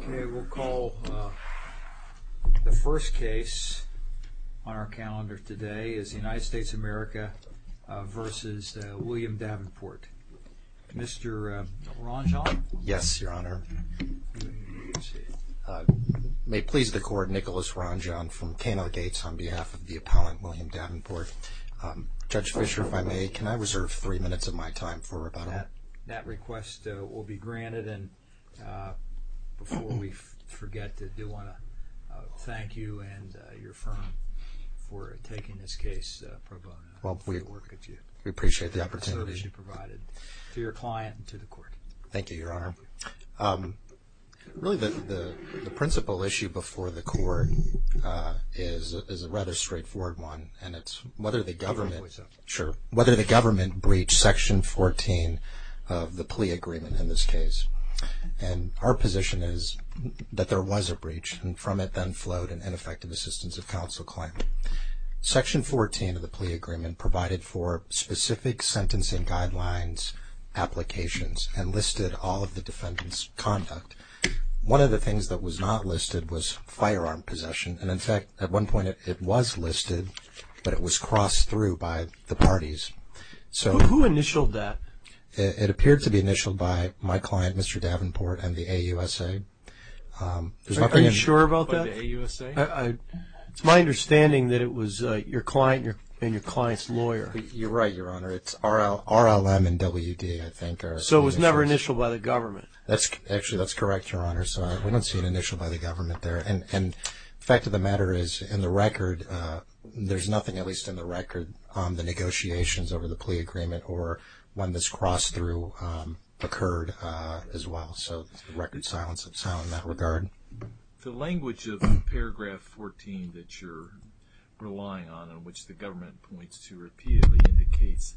Okay, we'll call the first case on our calendar today is the United States of America v. William Davenport. Mr. Ronjon? Yes, Your Honor. May it please the Court, Nicholas Ronjon from K&L Gates on behalf of the appellant, William Davenport. Judge Fischer, if I may, can I reserve three minutes of my time for rebuttal? That request will be granted, and before we forget, I do want to thank you and your firm for taking this case pro bono. We appreciate the opportunity. We appreciate the service you provided to your client and to the Court. Thank you, Your Honor. Really, the principal issue before the Court is a rather straightforward one, and it's whether the government breached Section 14 of the plea agreement in this case. And our position is that there was a breach, and from it then flowed an ineffective assistance of counsel claim. Section 14 of the plea agreement provided for specific sentencing guidelines, applications, and listed all of the defendant's conduct. One of the things that was not listed was firearm possession, and in fact, at one point it was listed, but it was crossed through by the parties. Who initialed that? It appeared to be initialed by my client, Mr. Davenport, and the AUSA. Are you sure about that? By the AUSA? It's my understanding that it was your client and your client's lawyer. You're right, Your Honor. It's RLM and WD, I think. So it was never initialed by the government? Actually, that's correct, Your Honor. So we don't see an initial by the government there. And the fact of the matter is, in the record, there's nothing, at least in the record, on the negotiations over the plea agreement or when this cross-through occurred as well. So there's record silence of sound in that regard. The language of paragraph 14 that you're relying on and which the government points to repeatedly indicates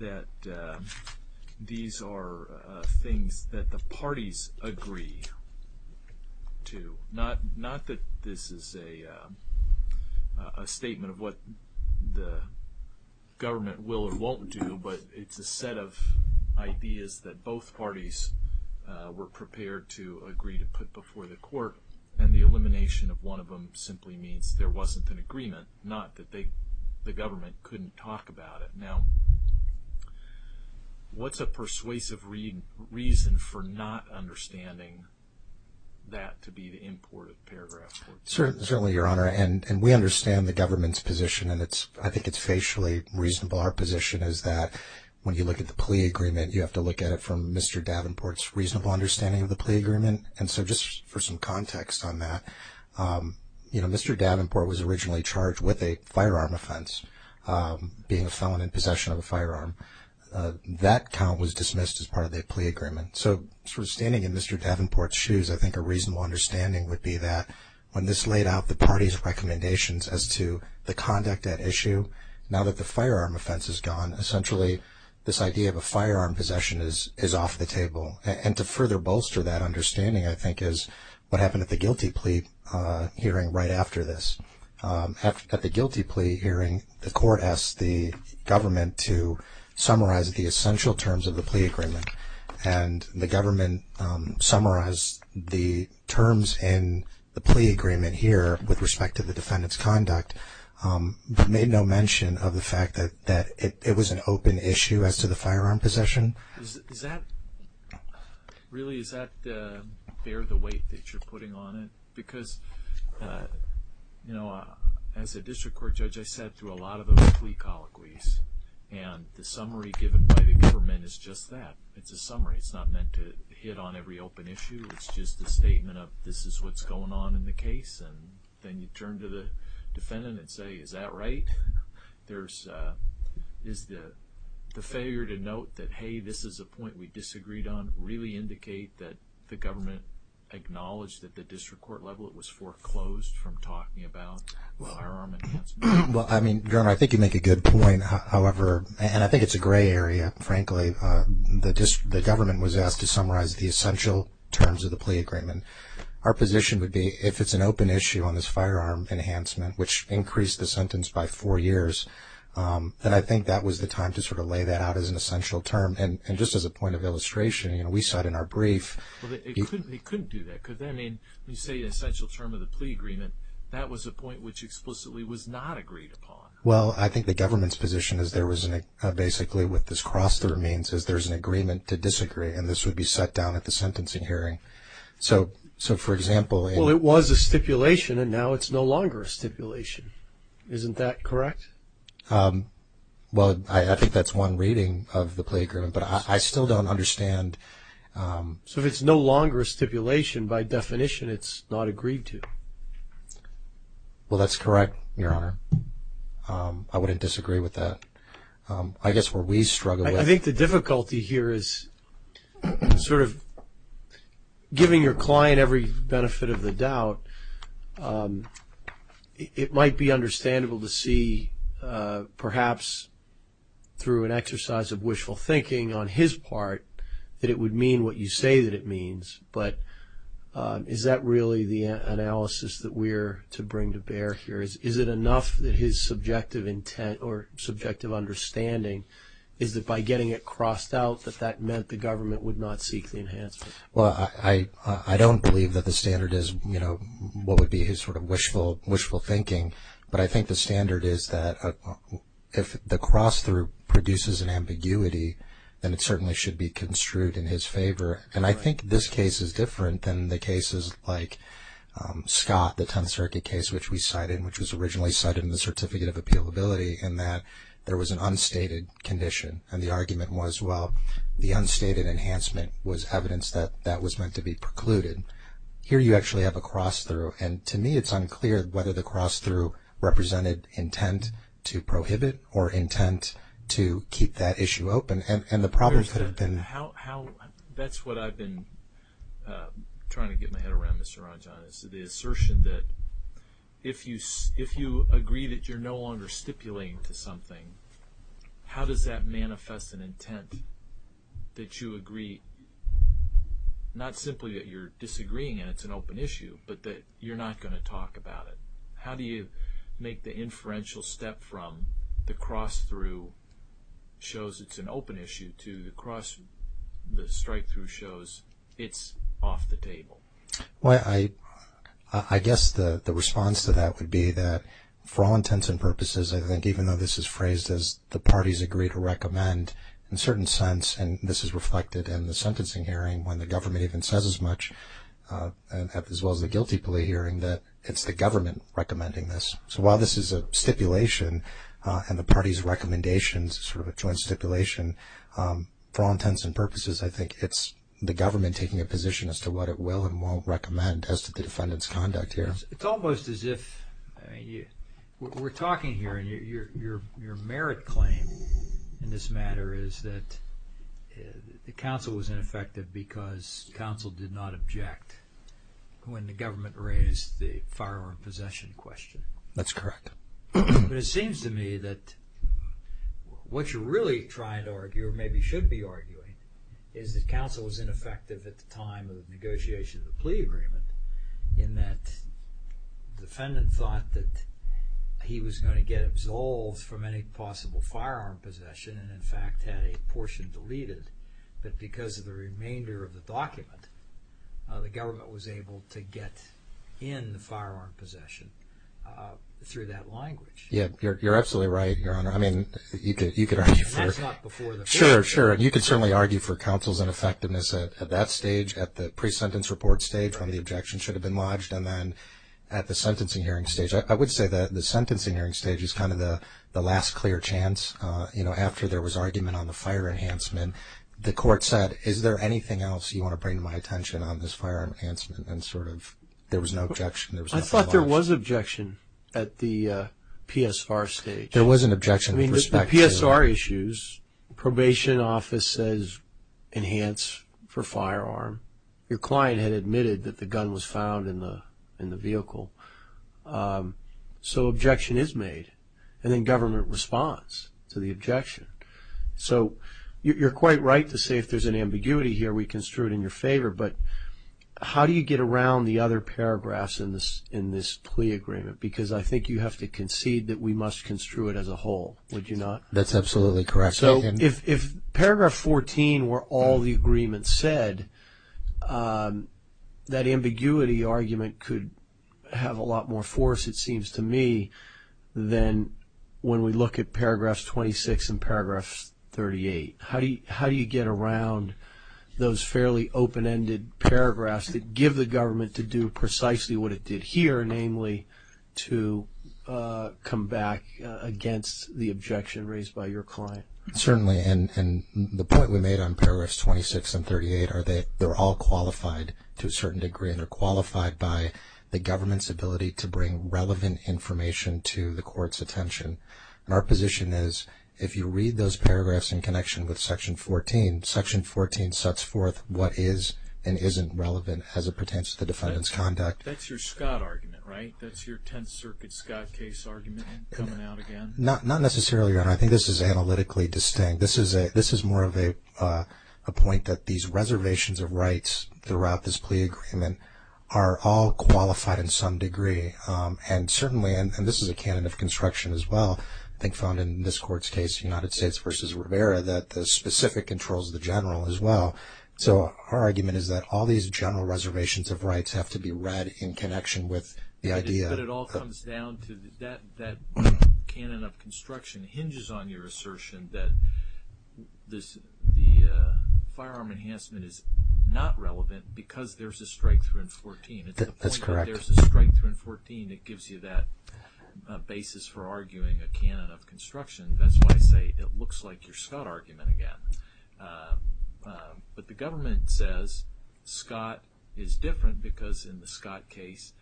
that these are things that the parties agree to. Not that this is a statement of what the government will or won't do, but it's a set of ideas that both parties were prepared to agree to put before the court, and the elimination of one of them simply means there wasn't an agreement, not that the government couldn't talk about it. Now, what's a persuasive reason for not understanding that to be the import of paragraph 14? Certainly, Your Honor, and we understand the government's position, and I think it's facially reasonable. Our position is that when you look at the plea agreement, you have to look at it from Mr. Davenport's reasonable understanding of the plea agreement. And so just for some context on that, you know, Mr. Davenport was originally charged with a firearm offense, being a felon in possession of a firearm. That count was dismissed as part of the plea agreement. So sort of standing in Mr. Davenport's shoes, I think a reasonable understanding would be that when this laid out the party's recommendations as to the conduct at issue, now that the firearm offense is gone, essentially this idea of a firearm possession is off the table. And to further bolster that understanding, I think, is what happened at the guilty plea hearing right after this. At the guilty plea hearing, the court asked the government to summarize the essential terms of the plea agreement, and the government summarized the terms in the plea agreement here with respect to the defendant's conduct, but made no mention of the fact that it was an open issue as to the firearm possession. Really, is that bear the weight that you're putting on it? Because, you know, as a district court judge, I sat through a lot of those plea colloquies, and the summary given by the government is just that. It's a summary. It's not meant to hit on every open issue. It's just a statement of this is what's going on in the case, and then you turn to the defendant and say, is that right? Is the failure to note that, hey, this is a point we disagreed on, really indicate that the government acknowledged at the district court level it was foreclosed from talking about firearm enhancement? Well, I mean, Governor, I think you make a good point. However, and I think it's a gray area, frankly. The government was asked to summarize the essential terms of the plea agreement. Our position would be if it's an open issue on this firearm enhancement, which increased the sentence by four years, then I think that was the time to sort of lay that out as an essential term. And just as a point of illustration, you know, we said in our brief. Well, they couldn't do that, could they? I mean, when you say essential term of the plea agreement, that was a point which explicitly was not agreed upon. Well, I think the government's position is there was basically, with this cross through means, is there's an agreement to disagree, and this would be set down at the sentencing hearing. So, for example. Well, it was a stipulation, and now it's no longer a stipulation. Isn't that correct? Well, I think that's one reading of the plea agreement, but I still don't understand. So, if it's no longer a stipulation, by definition it's not agreed to. Well, that's correct, Your Honor. I wouldn't disagree with that. I guess where we struggle with. I think the difficulty here is sort of giving your client every benefit of the doubt. It might be understandable to see, perhaps through an exercise of wishful thinking on his part, that it would mean what you say that it means. But is that really the analysis that we're to bring to bear here? Is it enough that his subjective intent or subjective understanding is that by getting it crossed out, that that meant the government would not seek the enhancement? Well, I don't believe that the standard is, you know, what would be his sort of wishful thinking. But I think the standard is that if the cross through produces an ambiguity, then it certainly should be construed in his favor. And I think this case is different than the cases like Scott, the Tenth Circuit case, which we cited and which was originally cited in the Certificate of Appealability, in that there was an unstated condition. And the argument was, well, the unstated enhancement was evidence that that was meant to be precluded. Here you actually have a cross through. And to me it's unclear whether the cross through represented intent to prohibit or intent to keep that issue open. And the problem could have been. That's what I've been trying to get my head around, Mr. Ranjan, is the assertion that if you agree that you're no longer stipulating to something, how does that manifest an intent that you agree, not simply that you're disagreeing and it's an open issue, but that you're not going to talk about it? How do you make the inferential step from the cross through shows it's an open issue to the strike through shows it's off the table? Well, I guess the response to that would be that for all intents and purposes, I think even though this is phrased as the parties agree to recommend, in a certain sense, and this is reflected in the sentencing hearing when the government even says as much, as well as the guilty plea hearing, that it's the government recommending this. So while this is a stipulation and the party's recommendation is sort of a joint stipulation, for all intents and purposes I think it's the government taking a position as to what it will and won't recommend as to the defendant's conduct here. It's almost as if we're talking here and your merit claim in this matter is that the counsel was ineffective because counsel did not object when the government raised the firearm possession question. That's correct. But it seems to me that what you're really trying to argue or maybe should be arguing is that counsel was ineffective at the time of the negotiation of the plea agreement in that the defendant thought that he was going to get absolved from any possible firearm possession and in fact had a portion deleted, but because of the remainder of the document, the government was able to get in the firearm possession through that language. Yeah, you're absolutely right, Your Honor. I mean, you could argue for... That's not before the plea agreement. Sure, sure. And you could certainly argue for counsel's ineffectiveness at that stage, at the pre-sentence report stage when the objection should have been lodged, and then at the sentencing hearing stage. I would say that the sentencing hearing stage is kind of the last clear chance, you know, after there was argument on the fire enhancement. The court said, is there anything else you want to bring to my attention on this firearm enhancement? And sort of there was no objection. I thought there was objection at the PSR stage. There was an objection. I mean, the PSR issues, probation office says enhance for firearm. Your client had admitted that the gun was found in the vehicle. So objection is made. And then government responds to the objection. So you're quite right to say if there's an ambiguity here, we construe it in your favor. But how do you get around the other paragraphs in this plea agreement? Because I think you have to concede that we must construe it as a whole, would you not? That's absolutely correct. So if paragraph 14 were all the agreements said, that ambiguity argument could have a lot more force, it seems to me, than when we look at paragraphs 26 and paragraphs 38. How do you get around those fairly open-ended paragraphs that give the government to do precisely what it did here, namely to come back against the objection raised by your client? Certainly. And the point we made on paragraphs 26 and 38 are they're all qualified to a certain degree, and they're qualified by the government's ability to bring relevant information to the court's attention. And our position is if you read those paragraphs in connection with section 14, section 14 sets forth what is and isn't relevant as it pertains to the defendant's conduct. That's your Scott argument, right? That's your Tenth Circuit Scott case argument coming out again? Not necessarily, Your Honor. I think this is analytically distinct. This is more of a point that these reservations of rights throughout this plea agreement are all qualified in some degree. And certainly, and this is a canon of construction as well, I think found in this court's case, United States v. Rivera, that the specific controls the general as well. So our argument is that all these general reservations of rights have to be read in connection with the idea. But it all comes down to that canon of construction hinges on your assertion that the firearm enhancement is not relevant because there's a strikethrough in 14. That's correct. There's a strikethrough in 14 that gives you that basis for arguing a canon of construction. That's why I say it looks like your Scott argument again. But the government says Scott is different because in the Scott case,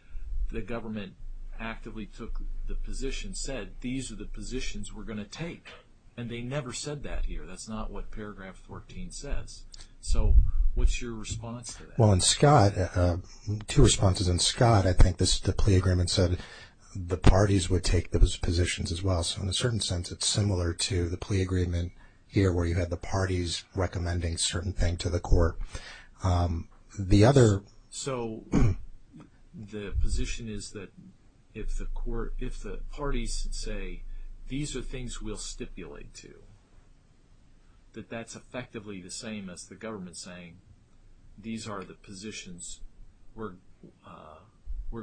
the government actively took the position, said these are the positions we're going to take. And they never said that here. That's not what paragraph 14 says. So what's your response to that? Well, in Scott, two responses. In Scott, I think the plea agreement said the parties would take those positions as well. So in a certain sense, it's similar to the plea agreement here where you had the parties recommending a certain thing to the court. So the position is that if the parties say these are things we'll stipulate to, that that's effectively the same as the government saying these are the positions we're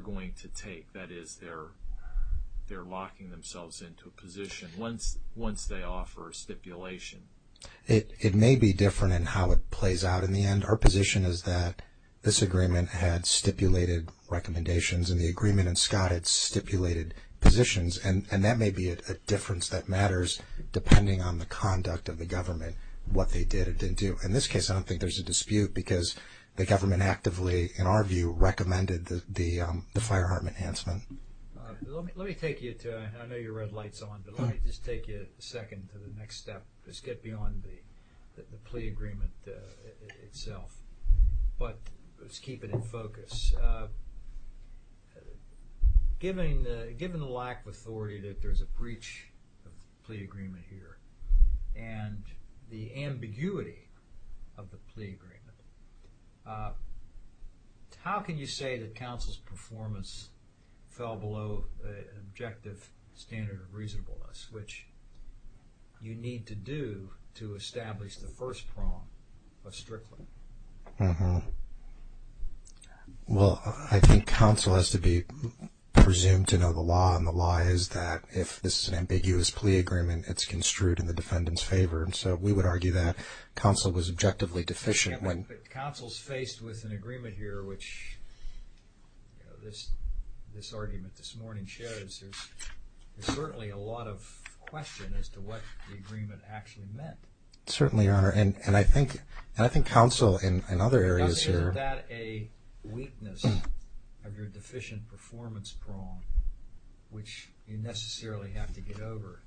going to take. That is, they're locking themselves into a position once they offer a stipulation. It may be different in how it plays out in the end. Our position is that this agreement had stipulated recommendations and the agreement in Scott had stipulated positions, and that may be a difference that matters depending on the conduct of the government, what they did or didn't do. In this case, I don't think there's a dispute because the government actively, in our view, recommended the firearm enhancement. Let me take you to, I know your red light's on, but let me just take you a second to the next step. Let's get beyond the plea agreement itself. But let's keep it in focus. Given the lack of authority that there's a breach of the plea agreement here and the ambiguity of the plea agreement, how can you say that counsel's performance fell below the objective standard of reasonableness, which you need to do to establish the first prong of Strickland? Well, I think counsel has to be presumed to know the law, and the law is that if this is an ambiguous plea agreement, it's construed in the defendant's favor. So we would argue that counsel was objectively deficient. Counsel's faced with an agreement here, which this argument this morning shows, there's certainly a lot of question as to what the agreement actually meant. Certainly, Your Honor. And I think counsel in other areas here Is that a weakness of your deficient performance prong, which you necessarily have to get over?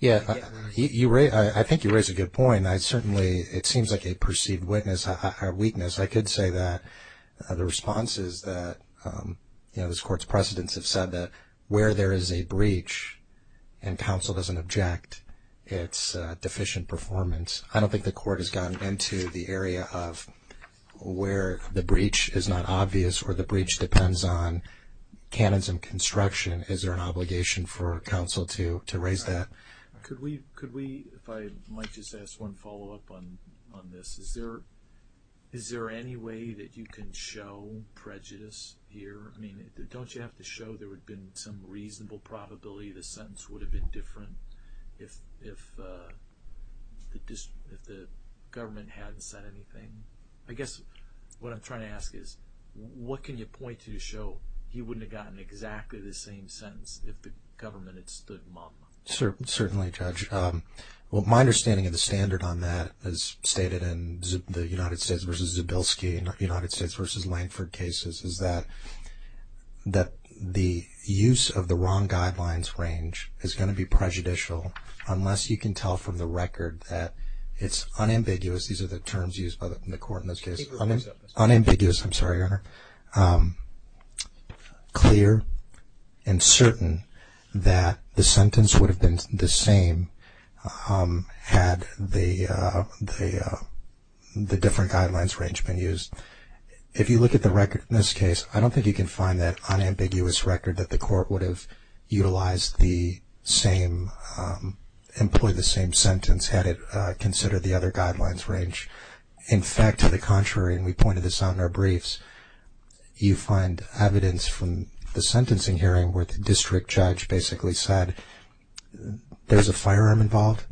Yeah. I think you raise a good point. Certainly, it seems like a perceived weakness. I could say that the response is that, you know, this Court's precedents have said that where there is a breach and counsel doesn't object, it's deficient performance. I don't think the Court has gotten into the area of where the breach is not obvious or the breach depends on canons and construction. Is there an obligation for counsel to raise that? Could we, if I might just ask one follow-up on this, is there any way that you can show prejudice here? I mean, don't you have to show there would have been some reasonable probability the sentence would have been different if the government hadn't said anything? I guess what I'm trying to ask is what can you point to to show he wouldn't have gotten exactly the same sentence if the government had stood mum? Certainly, Judge. Well, my understanding of the standard on that as stated in the United States v. Zabilski and United States v. Lankford cases is that the use of the wrong guidelines range is going to be prejudicial unless you can tell from the record that it's unambiguous. These are the terms used by the Court in this case. Unambiguous, I'm sorry, Your Honor. Clear and certain that the sentence would have been the same had the different guidelines range been used. If you look at the record in this case, I don't think you can find that unambiguous record that the Court would have employed the same sentence had it considered the other guidelines range. In fact, to the contrary, and we pointed this out in our briefs, you find evidence from the sentencing hearing where the district judge basically said there's a firearm involved,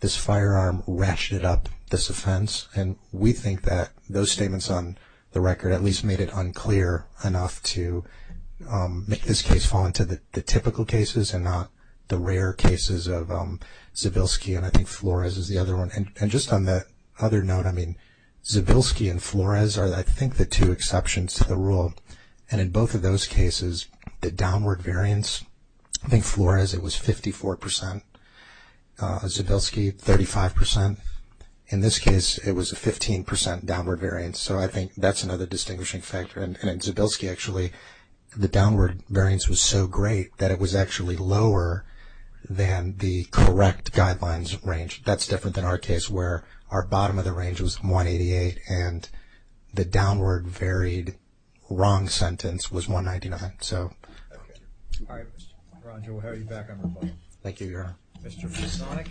this firearm ratcheted up this offense, and we think that those statements on the record at least made it unclear enough to make this case fall into the typical cases and not the rare cases of Zabilski and I think Flores is the other one. And just on that other note, I mean, Zabilski and Flores are, I think, the two exceptions to the rule, and in both of those cases, the downward variance, I think Flores it was 54 percent, Zabilski 35 percent. In this case, it was a 15 percent downward variance, so I think that's another distinguishing factor. And in Zabilski, actually, the downward variance was so great that it was actually lower than the correct guidelines range. That's different than our case where our bottom of the range was 188 and the downward varied wrong sentence was 199. All right. Roger, we'll have you back on rebuttal. Thank you, Your Honor. Mr. Fisonic.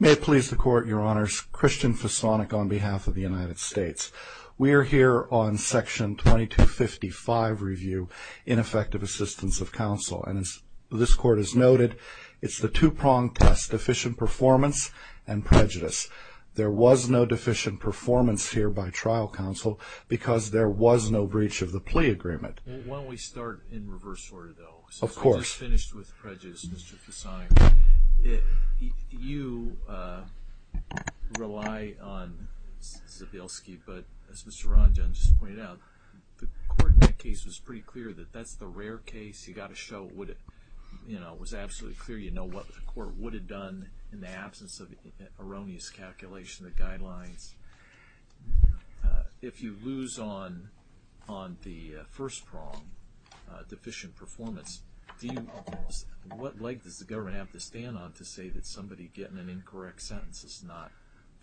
May it please the Court, Your Honors. Christian Fisonic on behalf of the United States. We are here on Section 2255 review, ineffective assistance of counsel, and as this Court has noted, it's the two-pronged test, deficient performance and prejudice. There was no deficient performance here by trial counsel because there was no breach of the plea agreement. Why don't we start in reverse order, though? Of course. We just finished with prejudice, Mr. Fisonic. You rely on Zabilski, but as Mr. Ronjun just pointed out, the Court in that case was pretty clear that that's the rare case. You've got to show it was absolutely clear. You know what the Court would have done in the absence of erroneous calculation of the guidelines. If you lose on the first prong, deficient performance, what leg does the government have to stand on to say that somebody getting an incorrect sentence is not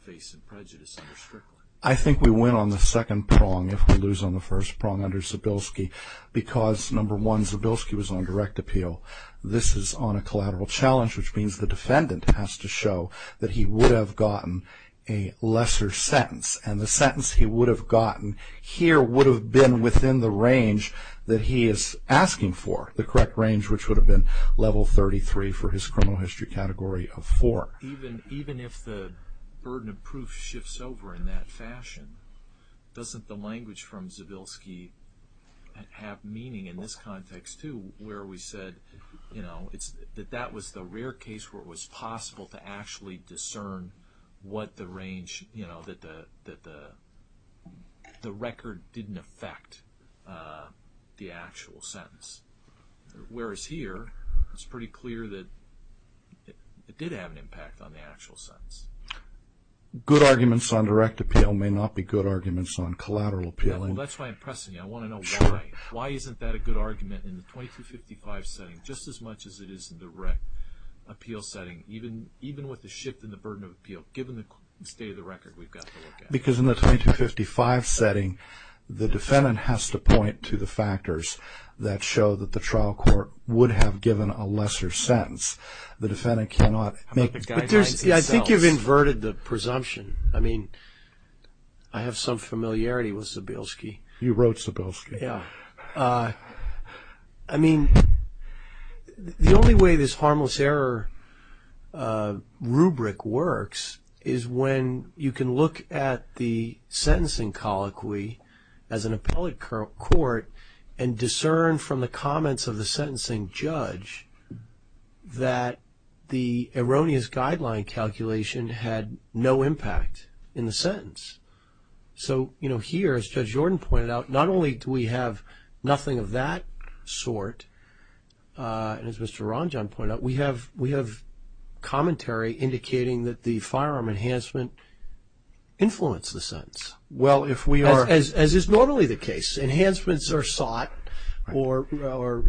facing prejudice under Strickland? I think we win on the second prong if we lose on the first prong under Zabilski because, number one, Zabilski was on direct appeal. This is on a collateral challenge, which means the defendant has to show that he would have gotten a lesser sentence, and the sentence he would have gotten here would have been within the range that he is asking for, the correct range, which would have been level 33 for his criminal history category of 4. Even if the burden of proof shifts over in that fashion, doesn't the language from Zabilski have meaning in this context, too, where we said that that was the rare case where it was possible to actually discern what the range, that the record didn't affect the actual sentence? Whereas here, it's pretty clear that it did have an impact on the actual sentence. Good arguments on direct appeal may not be good arguments on collateral appeal. That's why I'm pressing you. I want to know why. Why isn't that a good argument in the 2255 setting just as much as it is in the direct appeal setting, even with the shift in the burden of appeal, given the state of the record we've got to look at? Because in the 2255 setting, the defendant has to point to the factors that show that the trial court would have given a lesser sentence. The defendant cannot make... I think you've inverted the presumption. I mean, I have some familiarity with Zabilski. You wrote Zabilski. Yeah. I mean, the only way this harmless error rubric works is when you can look at the sentencing colloquy as an appellate court and discern from the comments of the sentencing judge had no impact in the sentence. So, you know, here, as Judge Jordan pointed out, not only do we have nothing of that sort, and as Mr. Ranjan pointed out, we have commentary indicating that the firearm enhancement influenced the sentence. Well, if we are... As is normally the case. Enhancements are sought, or our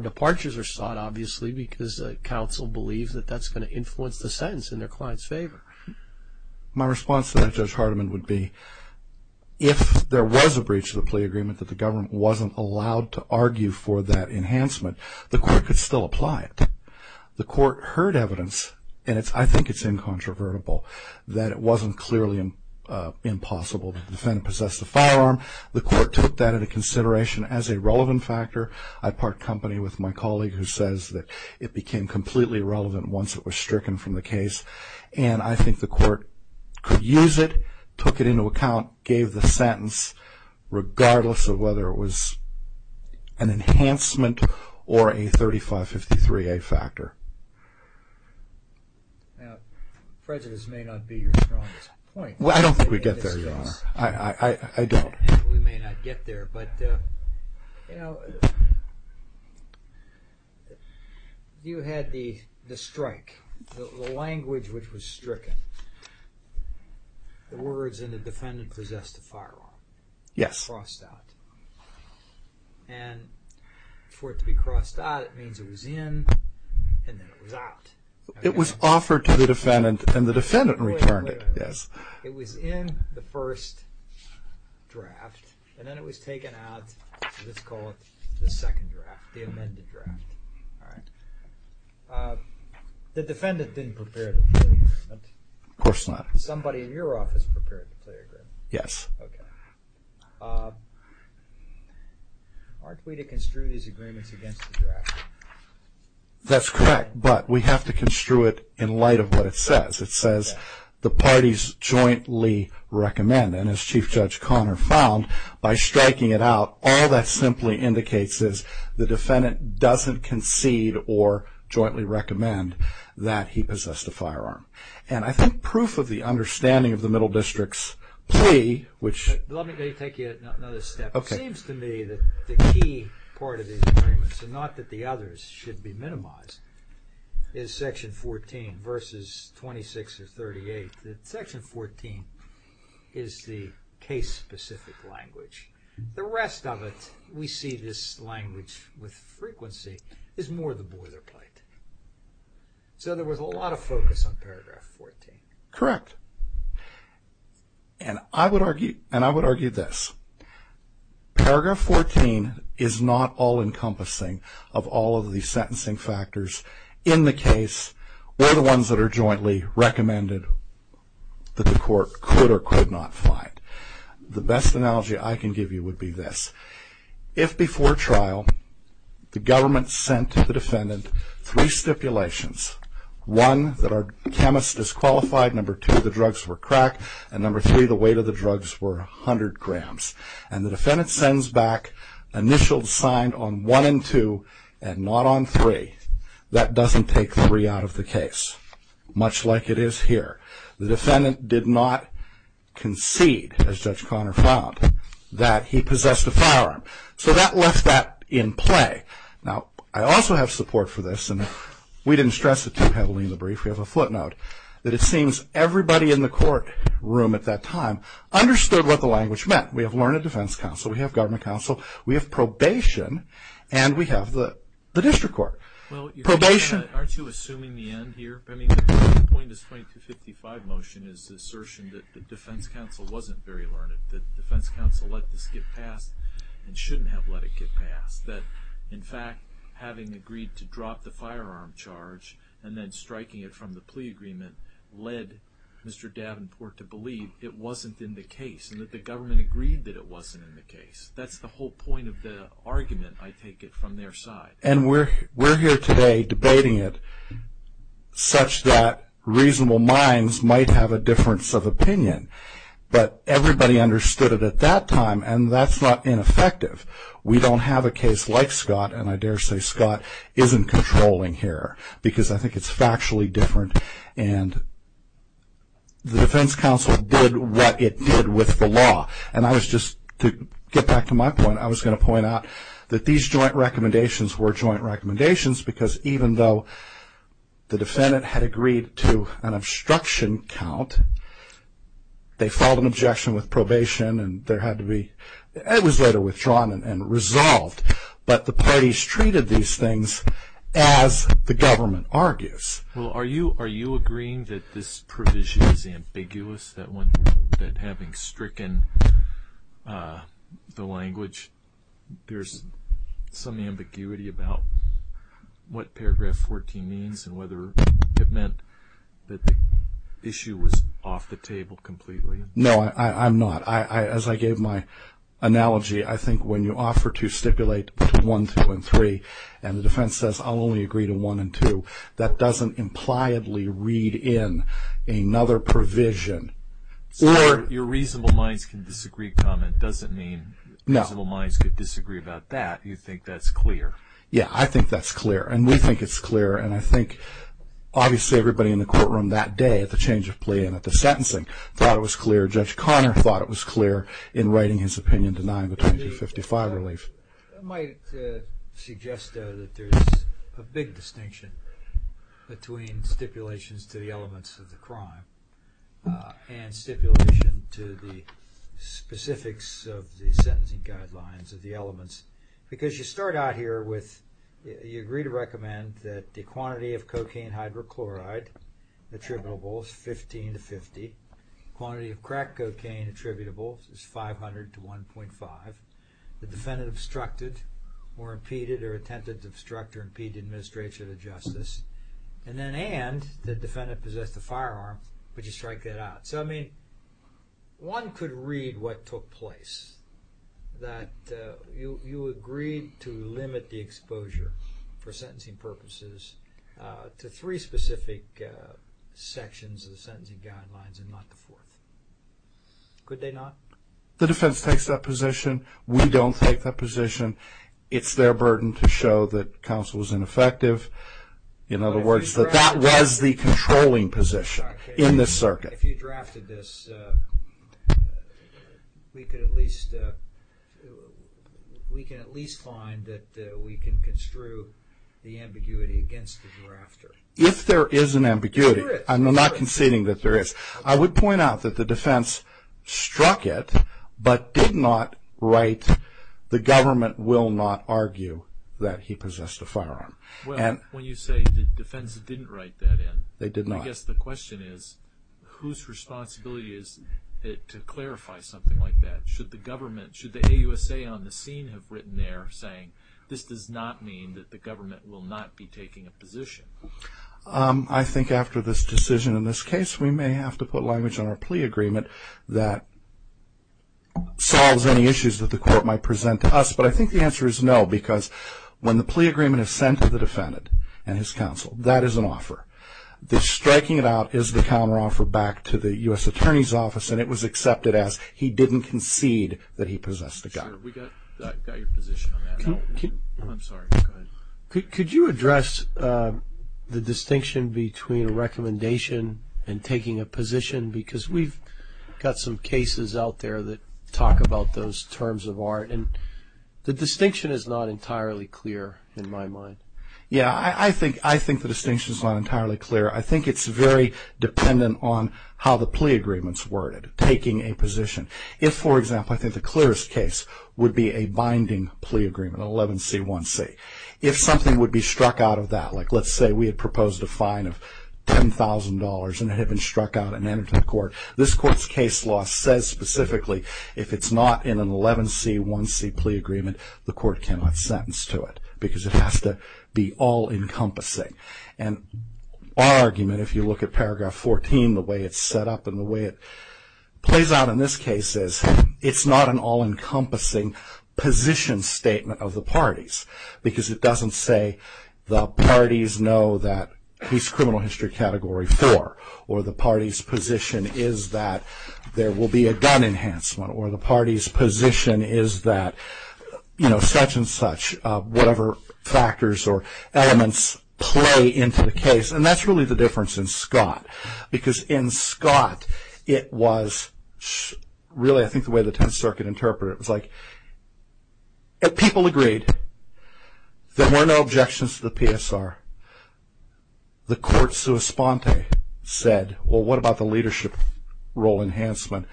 departures are sought, obviously, because counsel believes that that's going to influence the sentence in their client's favor. My response to that, Judge Hardiman, would be if there was a breach of the plea agreement that the government wasn't allowed to argue for that enhancement, the court could still apply it. The court heard evidence, and I think it's incontrovertible, that it wasn't clearly impossible. The defendant possessed a firearm. The court took that into consideration as a relevant factor. I part company with my colleague who says that it became completely relevant once it was stricken from the case. And I think the court could use it, took it into account, gave the sentence, regardless of whether it was an enhancement or a 3553A factor. Now, prejudice may not be your strongest point. Well, I don't think we get there, Your Honor. I don't. We may not get there. But, you know, you had the strike. The language which was stricken, the words, and the defendant possessed a firearm. Yes. Crossed out. And for it to be crossed out, it means it was in, and then it was out. It was offered to the defendant, and the defendant returned it. Yes. It was in the first draft, and then it was taken out, let's call it the second draft, the amended draft. All right. The defendant didn't prepare to play agreement. Of course not. Somebody in your office prepared to play agreement. Yes. Okay. Aren't we to construe these agreements against the draft? That's correct, but we have to construe it in light of what it says. It says, the parties jointly recommend, and as Chief Judge Conner found, by striking it out, all that simply indicates is the defendant doesn't concede or jointly recommend that he possessed a firearm. And I think proof of the understanding of the Middle District's plea, which... Let me take you another step. Okay. It seems to me that the key part of the agreement, so not that the others should be minimized, is Section 14, verses 26 or 38. Section 14 is the case-specific language. The rest of it, we see this language with frequency, is more the boilerplate. So there was a lot of focus on Paragraph 14. Correct. And I would argue this. Paragraph 14 is not all-encompassing of all of the sentencing factors in the case or the ones that are jointly recommended that the court could or could not find. The best analogy I can give you would be this. If, before trial, the government sent the defendant three stipulations, one, that our chemist is qualified, number two, the drugs were crack, and number three, the weight of the drugs were 100 grams, and the defendant sends back initials signed on one and two and not on three, that doesn't take three out of the case, much like it is here. The defendant did not concede, as Judge Conner found, that he possessed a firearm. So that left that in play. Now, I also have support for this, and we didn't stress it too heavily in the brief, we have a footnote, that it seems everybody in the courtroom at that time understood what the language meant. We have learned at defense counsel, we have government counsel, we have probation, and we have the district court. Well, aren't you assuming the end here? The point of this 2255 motion is the assertion that the defense counsel wasn't very learned, that defense counsel let this get passed and shouldn't have let it get passed, that in fact, having agreed to drop the firearm charge and then striking it from the plea agreement led Mr. Davenport to believe it wasn't in the case, and that the government agreed that it wasn't in the case. That's the whole point of the argument, I take it, from their side. And we're here today debating it, such that reasonable minds might have a difference of opinion, but everybody understood it at that time, and that's not ineffective. We don't have a case like Scott, and I dare say Scott isn't controlling here, because I think it's factually different, and the defense counsel did what it did with the law. And I was just, to get back to my point, I was going to point out that these joint recommendations were joint recommendations, because even though the defendant had agreed to an obstruction count, they filed an objection with probation, and there had to be, it was later withdrawn and resolved, but the parties treated these things as the government argues. Well, are you agreeing that this provision is ambiguous, that having stricken the language, there's some ambiguity about what paragraph 14 means and whether it meant that the issue was off the table completely? No, I'm not. As I gave my analogy, I think when you offer to stipulate between 1, 2, and 3, and the defense says, I'll only agree to 1 and 2, that doesn't impliedly read in another provision. So your reasonable minds can disagree comment doesn't mean reasonable minds could disagree about that. You think that's clear? Yeah, I think that's clear, and we think it's clear, and I think obviously everybody in the courtroom that day at the change of plea and at the sentencing thought it was clear. Judge Conner thought it was clear in writing his opinion denying the 2255 relief. I might suggest, though, that there's a big distinction between stipulations to the elements of the crime and stipulation to the specifics of the sentencing guidelines of the elements. Because you start out here with you agree to recommend that the quantity of cocaine hydrochloride attributable is 15 to 50, quantity of crack cocaine attributable is 500 to 1.5, the defendant obstructed or impeded or attempted to obstruct or impede the administration of justice, and then and the defendant possessed a firearm but you strike that out. So, I mean, one could read what took place that you agreed to limit the exposure for sentencing purposes to three specific sections of the sentencing guidelines and not the fourth. Could they not? The defense takes that position. We don't take that position. It's their burden to show that counsel is ineffective. In other words, that that was the controlling position. In this circuit. If you drafted this, we could at least we can at least find that we can construe the ambiguity against the drafter. If there is an ambiguity, I'm not conceding that there is. I would point out that the defense struck it, but did not write the government will not argue that he possessed a firearm. Well, when you say the defense didn't write that in, they did not. I guess the question is whose responsibility is it to clarify something like that? Should the government, should the AUSA on the scene have written there saying this does not mean that the government will not be taking a position? I think after this decision in this case, we may have to put language on our plea agreement that solves any issues that the court might present to us, but I think the answer is no because when the plea agreement is sent to the defendant and his counsel, that is an offer. The striking it out is the counteroffer back to the U.S. Attorney's Office and it was accepted as he didn't concede that he possessed a gun. We got your position on that. I'm sorry. Go ahead. Could you address the distinction between a recommendation and taking a position because we've got some cases out there that talk about those terms of art and the distinction is not entirely clear in my mind. Yeah, I think the distinction is not entirely clear. I think it's very dependent on how the plea agreement is worded, taking a position. If, for example, I think the clearest case would be a binding plea agreement, 11C1C. If something would be struck out of that, like let's say we had proposed a fine of $10,000 and it had been struck out and entered to the court, this court's case law says specifically if it's not in an 11C1C plea agreement, the court cannot sentence to it because it has to be all encompassing and our argument, if you look at paragraph 14, the way it's set up and the way it plays out in this case is it's not an all encompassing position statement of the parties because it doesn't say the parties know that he's criminal history category 4 or the party's position is that there will be a gun enhancement or the party's position is that, you know, such and such, whatever factors or elements play into the case and that's really the difference in Scott because in Scott it was really, I think the way the Tenth Circuit interpreted it was like if people agreed, there were no objections to the PSR, the court sui sponte said, well what about the leadership role enhancement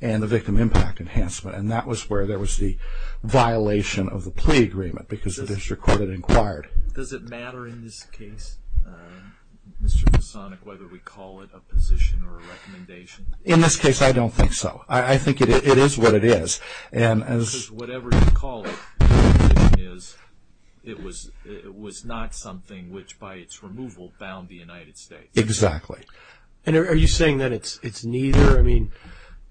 and the victim impact enhancement and that was where there was the violation of the plea agreement because the district court had inquired. Does it matter in this case, Mr. Masonic, whether we call it a position or a recommendation? In this case, I don't think so. I think it is what it is. Because whatever you call it, the position is it was not something which by its removal bound the United States. Exactly. And are you saying that it's neither? I mean,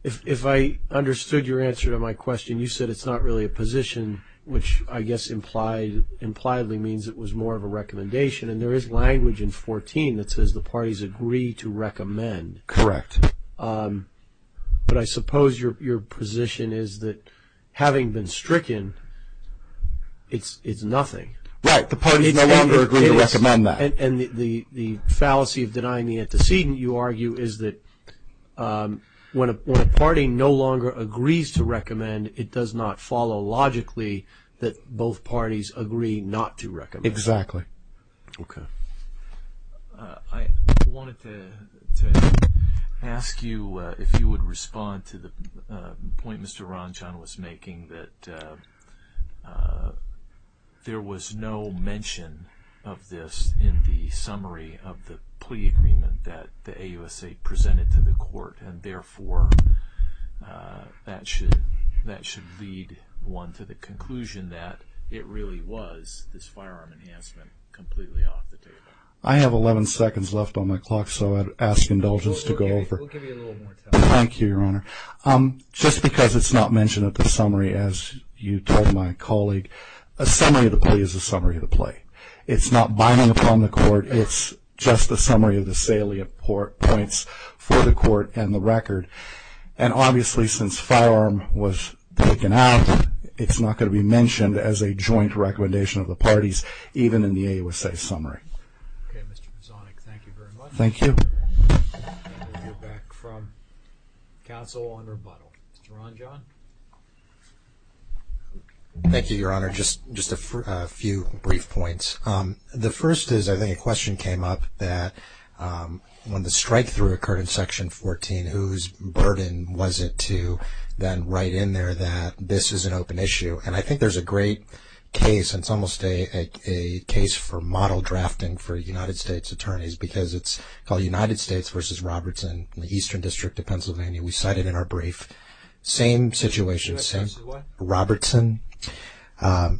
if I understood your answer to my question, you said it's not really a position which I guess impliedly means it was more of a recommendation and there is language in 14 that says the parties agree to recommend. Correct. But I suppose your position is that having been stricken, it's nothing. Right, the parties no longer agree to recommend that. And the fallacy of denying the antecedent, you argue, is that when a party no longer agrees to recommend, it does not follow logically that both parties agree not to recommend. Exactly. Okay. I wanted to ask you if you would respond to the point Mr. Ranjan was making that there was no mention of this in the summary of the plea agreement that the AUSA presented to the court and therefore that should lead one to the conclusion that it really was this firearm enhancement completely off the table. I have 11 seconds left on my clock so I'd ask indulgence to go over. We'll give you a little more time. Thank you, Your Honor. Just because it's not mentioned at the summary as you told my colleague, a summary of the plea is a summary of the plea. It's not binding upon the court. It's just a summary of the salient points for the court and the record. And obviously since firearm was taken out, it's not going to be mentioned as a joint recommendation of the parties even in the AUSA summary. Okay, Mr. Pozzanic, thank you very much. Thank you. We'll go back from counsel on rebuttal. Mr. Ranjan. Thank you, Your Honor. Just a few brief points. The first is, I think a question came up that when the strike-through occurred in Section 14, whose burden was it to then write in there that this is an open issue. And I think there's a great case, and it's almost a case for model drafting for United States attorneys, because it's called United States v. Robertson in the Eastern District of Pennsylvania. We cite it in our brief. Same situation, same Robertson.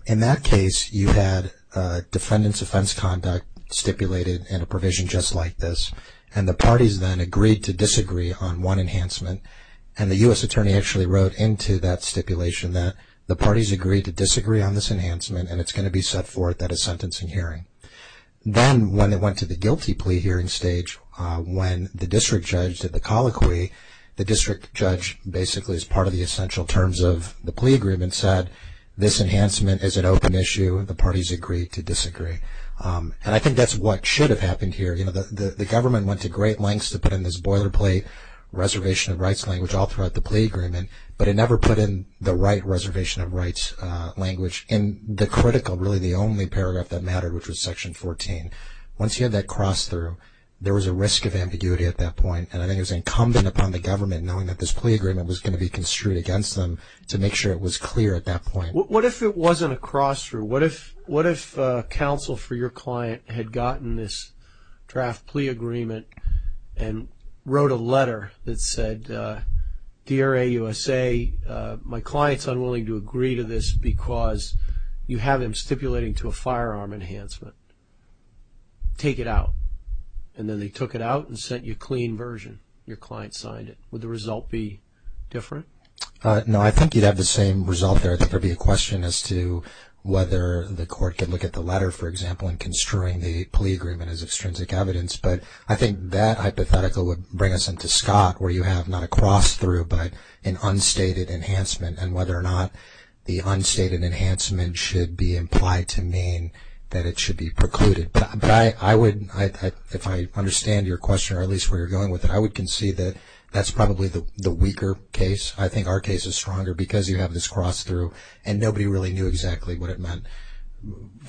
In that case, you had defendants' offense conduct stipulated in a provision just like this. And the parties then agreed to disagree on one enhancement. And the U.S. attorney actually wrote into that stipulation that the parties agreed to disagree on this enhancement, and it's going to be set forth at a sentencing hearing. Then when it went to the guilty plea hearing stage, when the district judge did the colloquy, the district judge, basically as part of the essential terms of the plea agreement, said this enhancement is an open issue, and the parties agreed to disagree. And I think that's what should have happened here. You know, the government went to great lengths to put in this boilerplate reservation of rights language all throughout the plea agreement, but it never put in the right reservation of rights language in the critical, really the only paragraph that mattered, which was section 14. Once you had that cross-through, there was a risk of ambiguity at that point, and I think it was incumbent upon the government knowing that this plea agreement was going to be construed against them to make sure it was clear at that point. What if it wasn't a cross-through? What if counsel for your client had gotten this draft plea agreement and wrote a letter that said, Dear AUSA, my client's unwilling to agree to this because you have him stipulating to a firearm enhancement. Take it out. And then they took it out and sent you a clean version. Your client signed it. Would the result be different? No, I think you'd have the same result there. I think there would be a question as to whether the court could look at the letter, for example, in construing the plea agreement as extrinsic evidence, but I think that hypothetical would bring us into Scott where you have not a cross-through but an unstated enhancement and whether or not the unstated enhancement should be implied to mean that it should be precluded. But I would, if I understand your question or at least where you're going with it, I would concede that that's probably the weaker case. I think our case is stronger because you have this cross-through and nobody really knew exactly what it meant.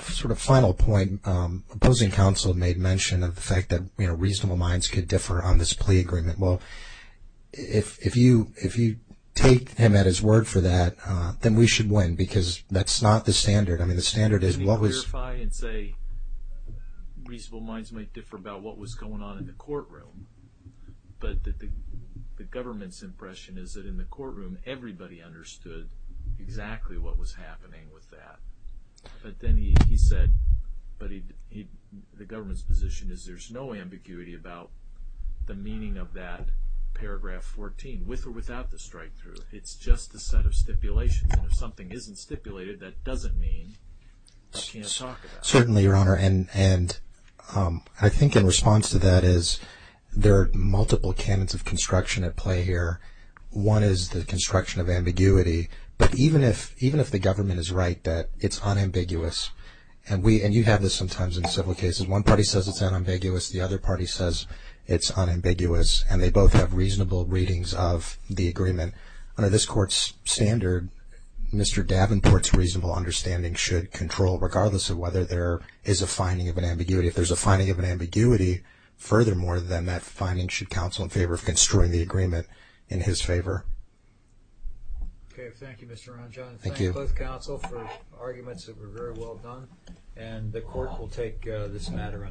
Sort of final point, opposing counsel made mention of the fact that, you know, reasonable minds could differ on this plea agreement. Well, if you take him at his word for that, then we should win because that's not the standard. I mean, the standard is what was... Let me clarify and say reasonable minds might differ about what was going on in the courtroom, but the government's impression is that in the courtroom everybody understood exactly what was happening with that. But then he said, but the government's position is there's no ambiguity about the meaning of that paragraph 14 with or without the strikethrough. It's just a set of stipulations and if something isn't stipulated, that doesn't mean we can't talk about it. Certainly, Your Honor, and I think in response to that is there are multiple canons of construction at play here. One is the construction of ambiguity, but even if the government is right that it's unambiguous, and you have this sometimes in civil cases. One party says it's unambiguous, the other party says it's unambiguous, and they both have reasonable readings of the agreement. Under this Court's standard, Mr. Davenport's reasonable understanding should control, regardless of whether there is a finding of an ambiguity. If there's a finding of an ambiguity, furthermore, then that finding should counsel in favor of construing the agreement in his favor. Okay, thank you, Mr. Ronjon. Thank you. Thank you, both counsel, for arguments that were very well done, and the Court will take this matter under review.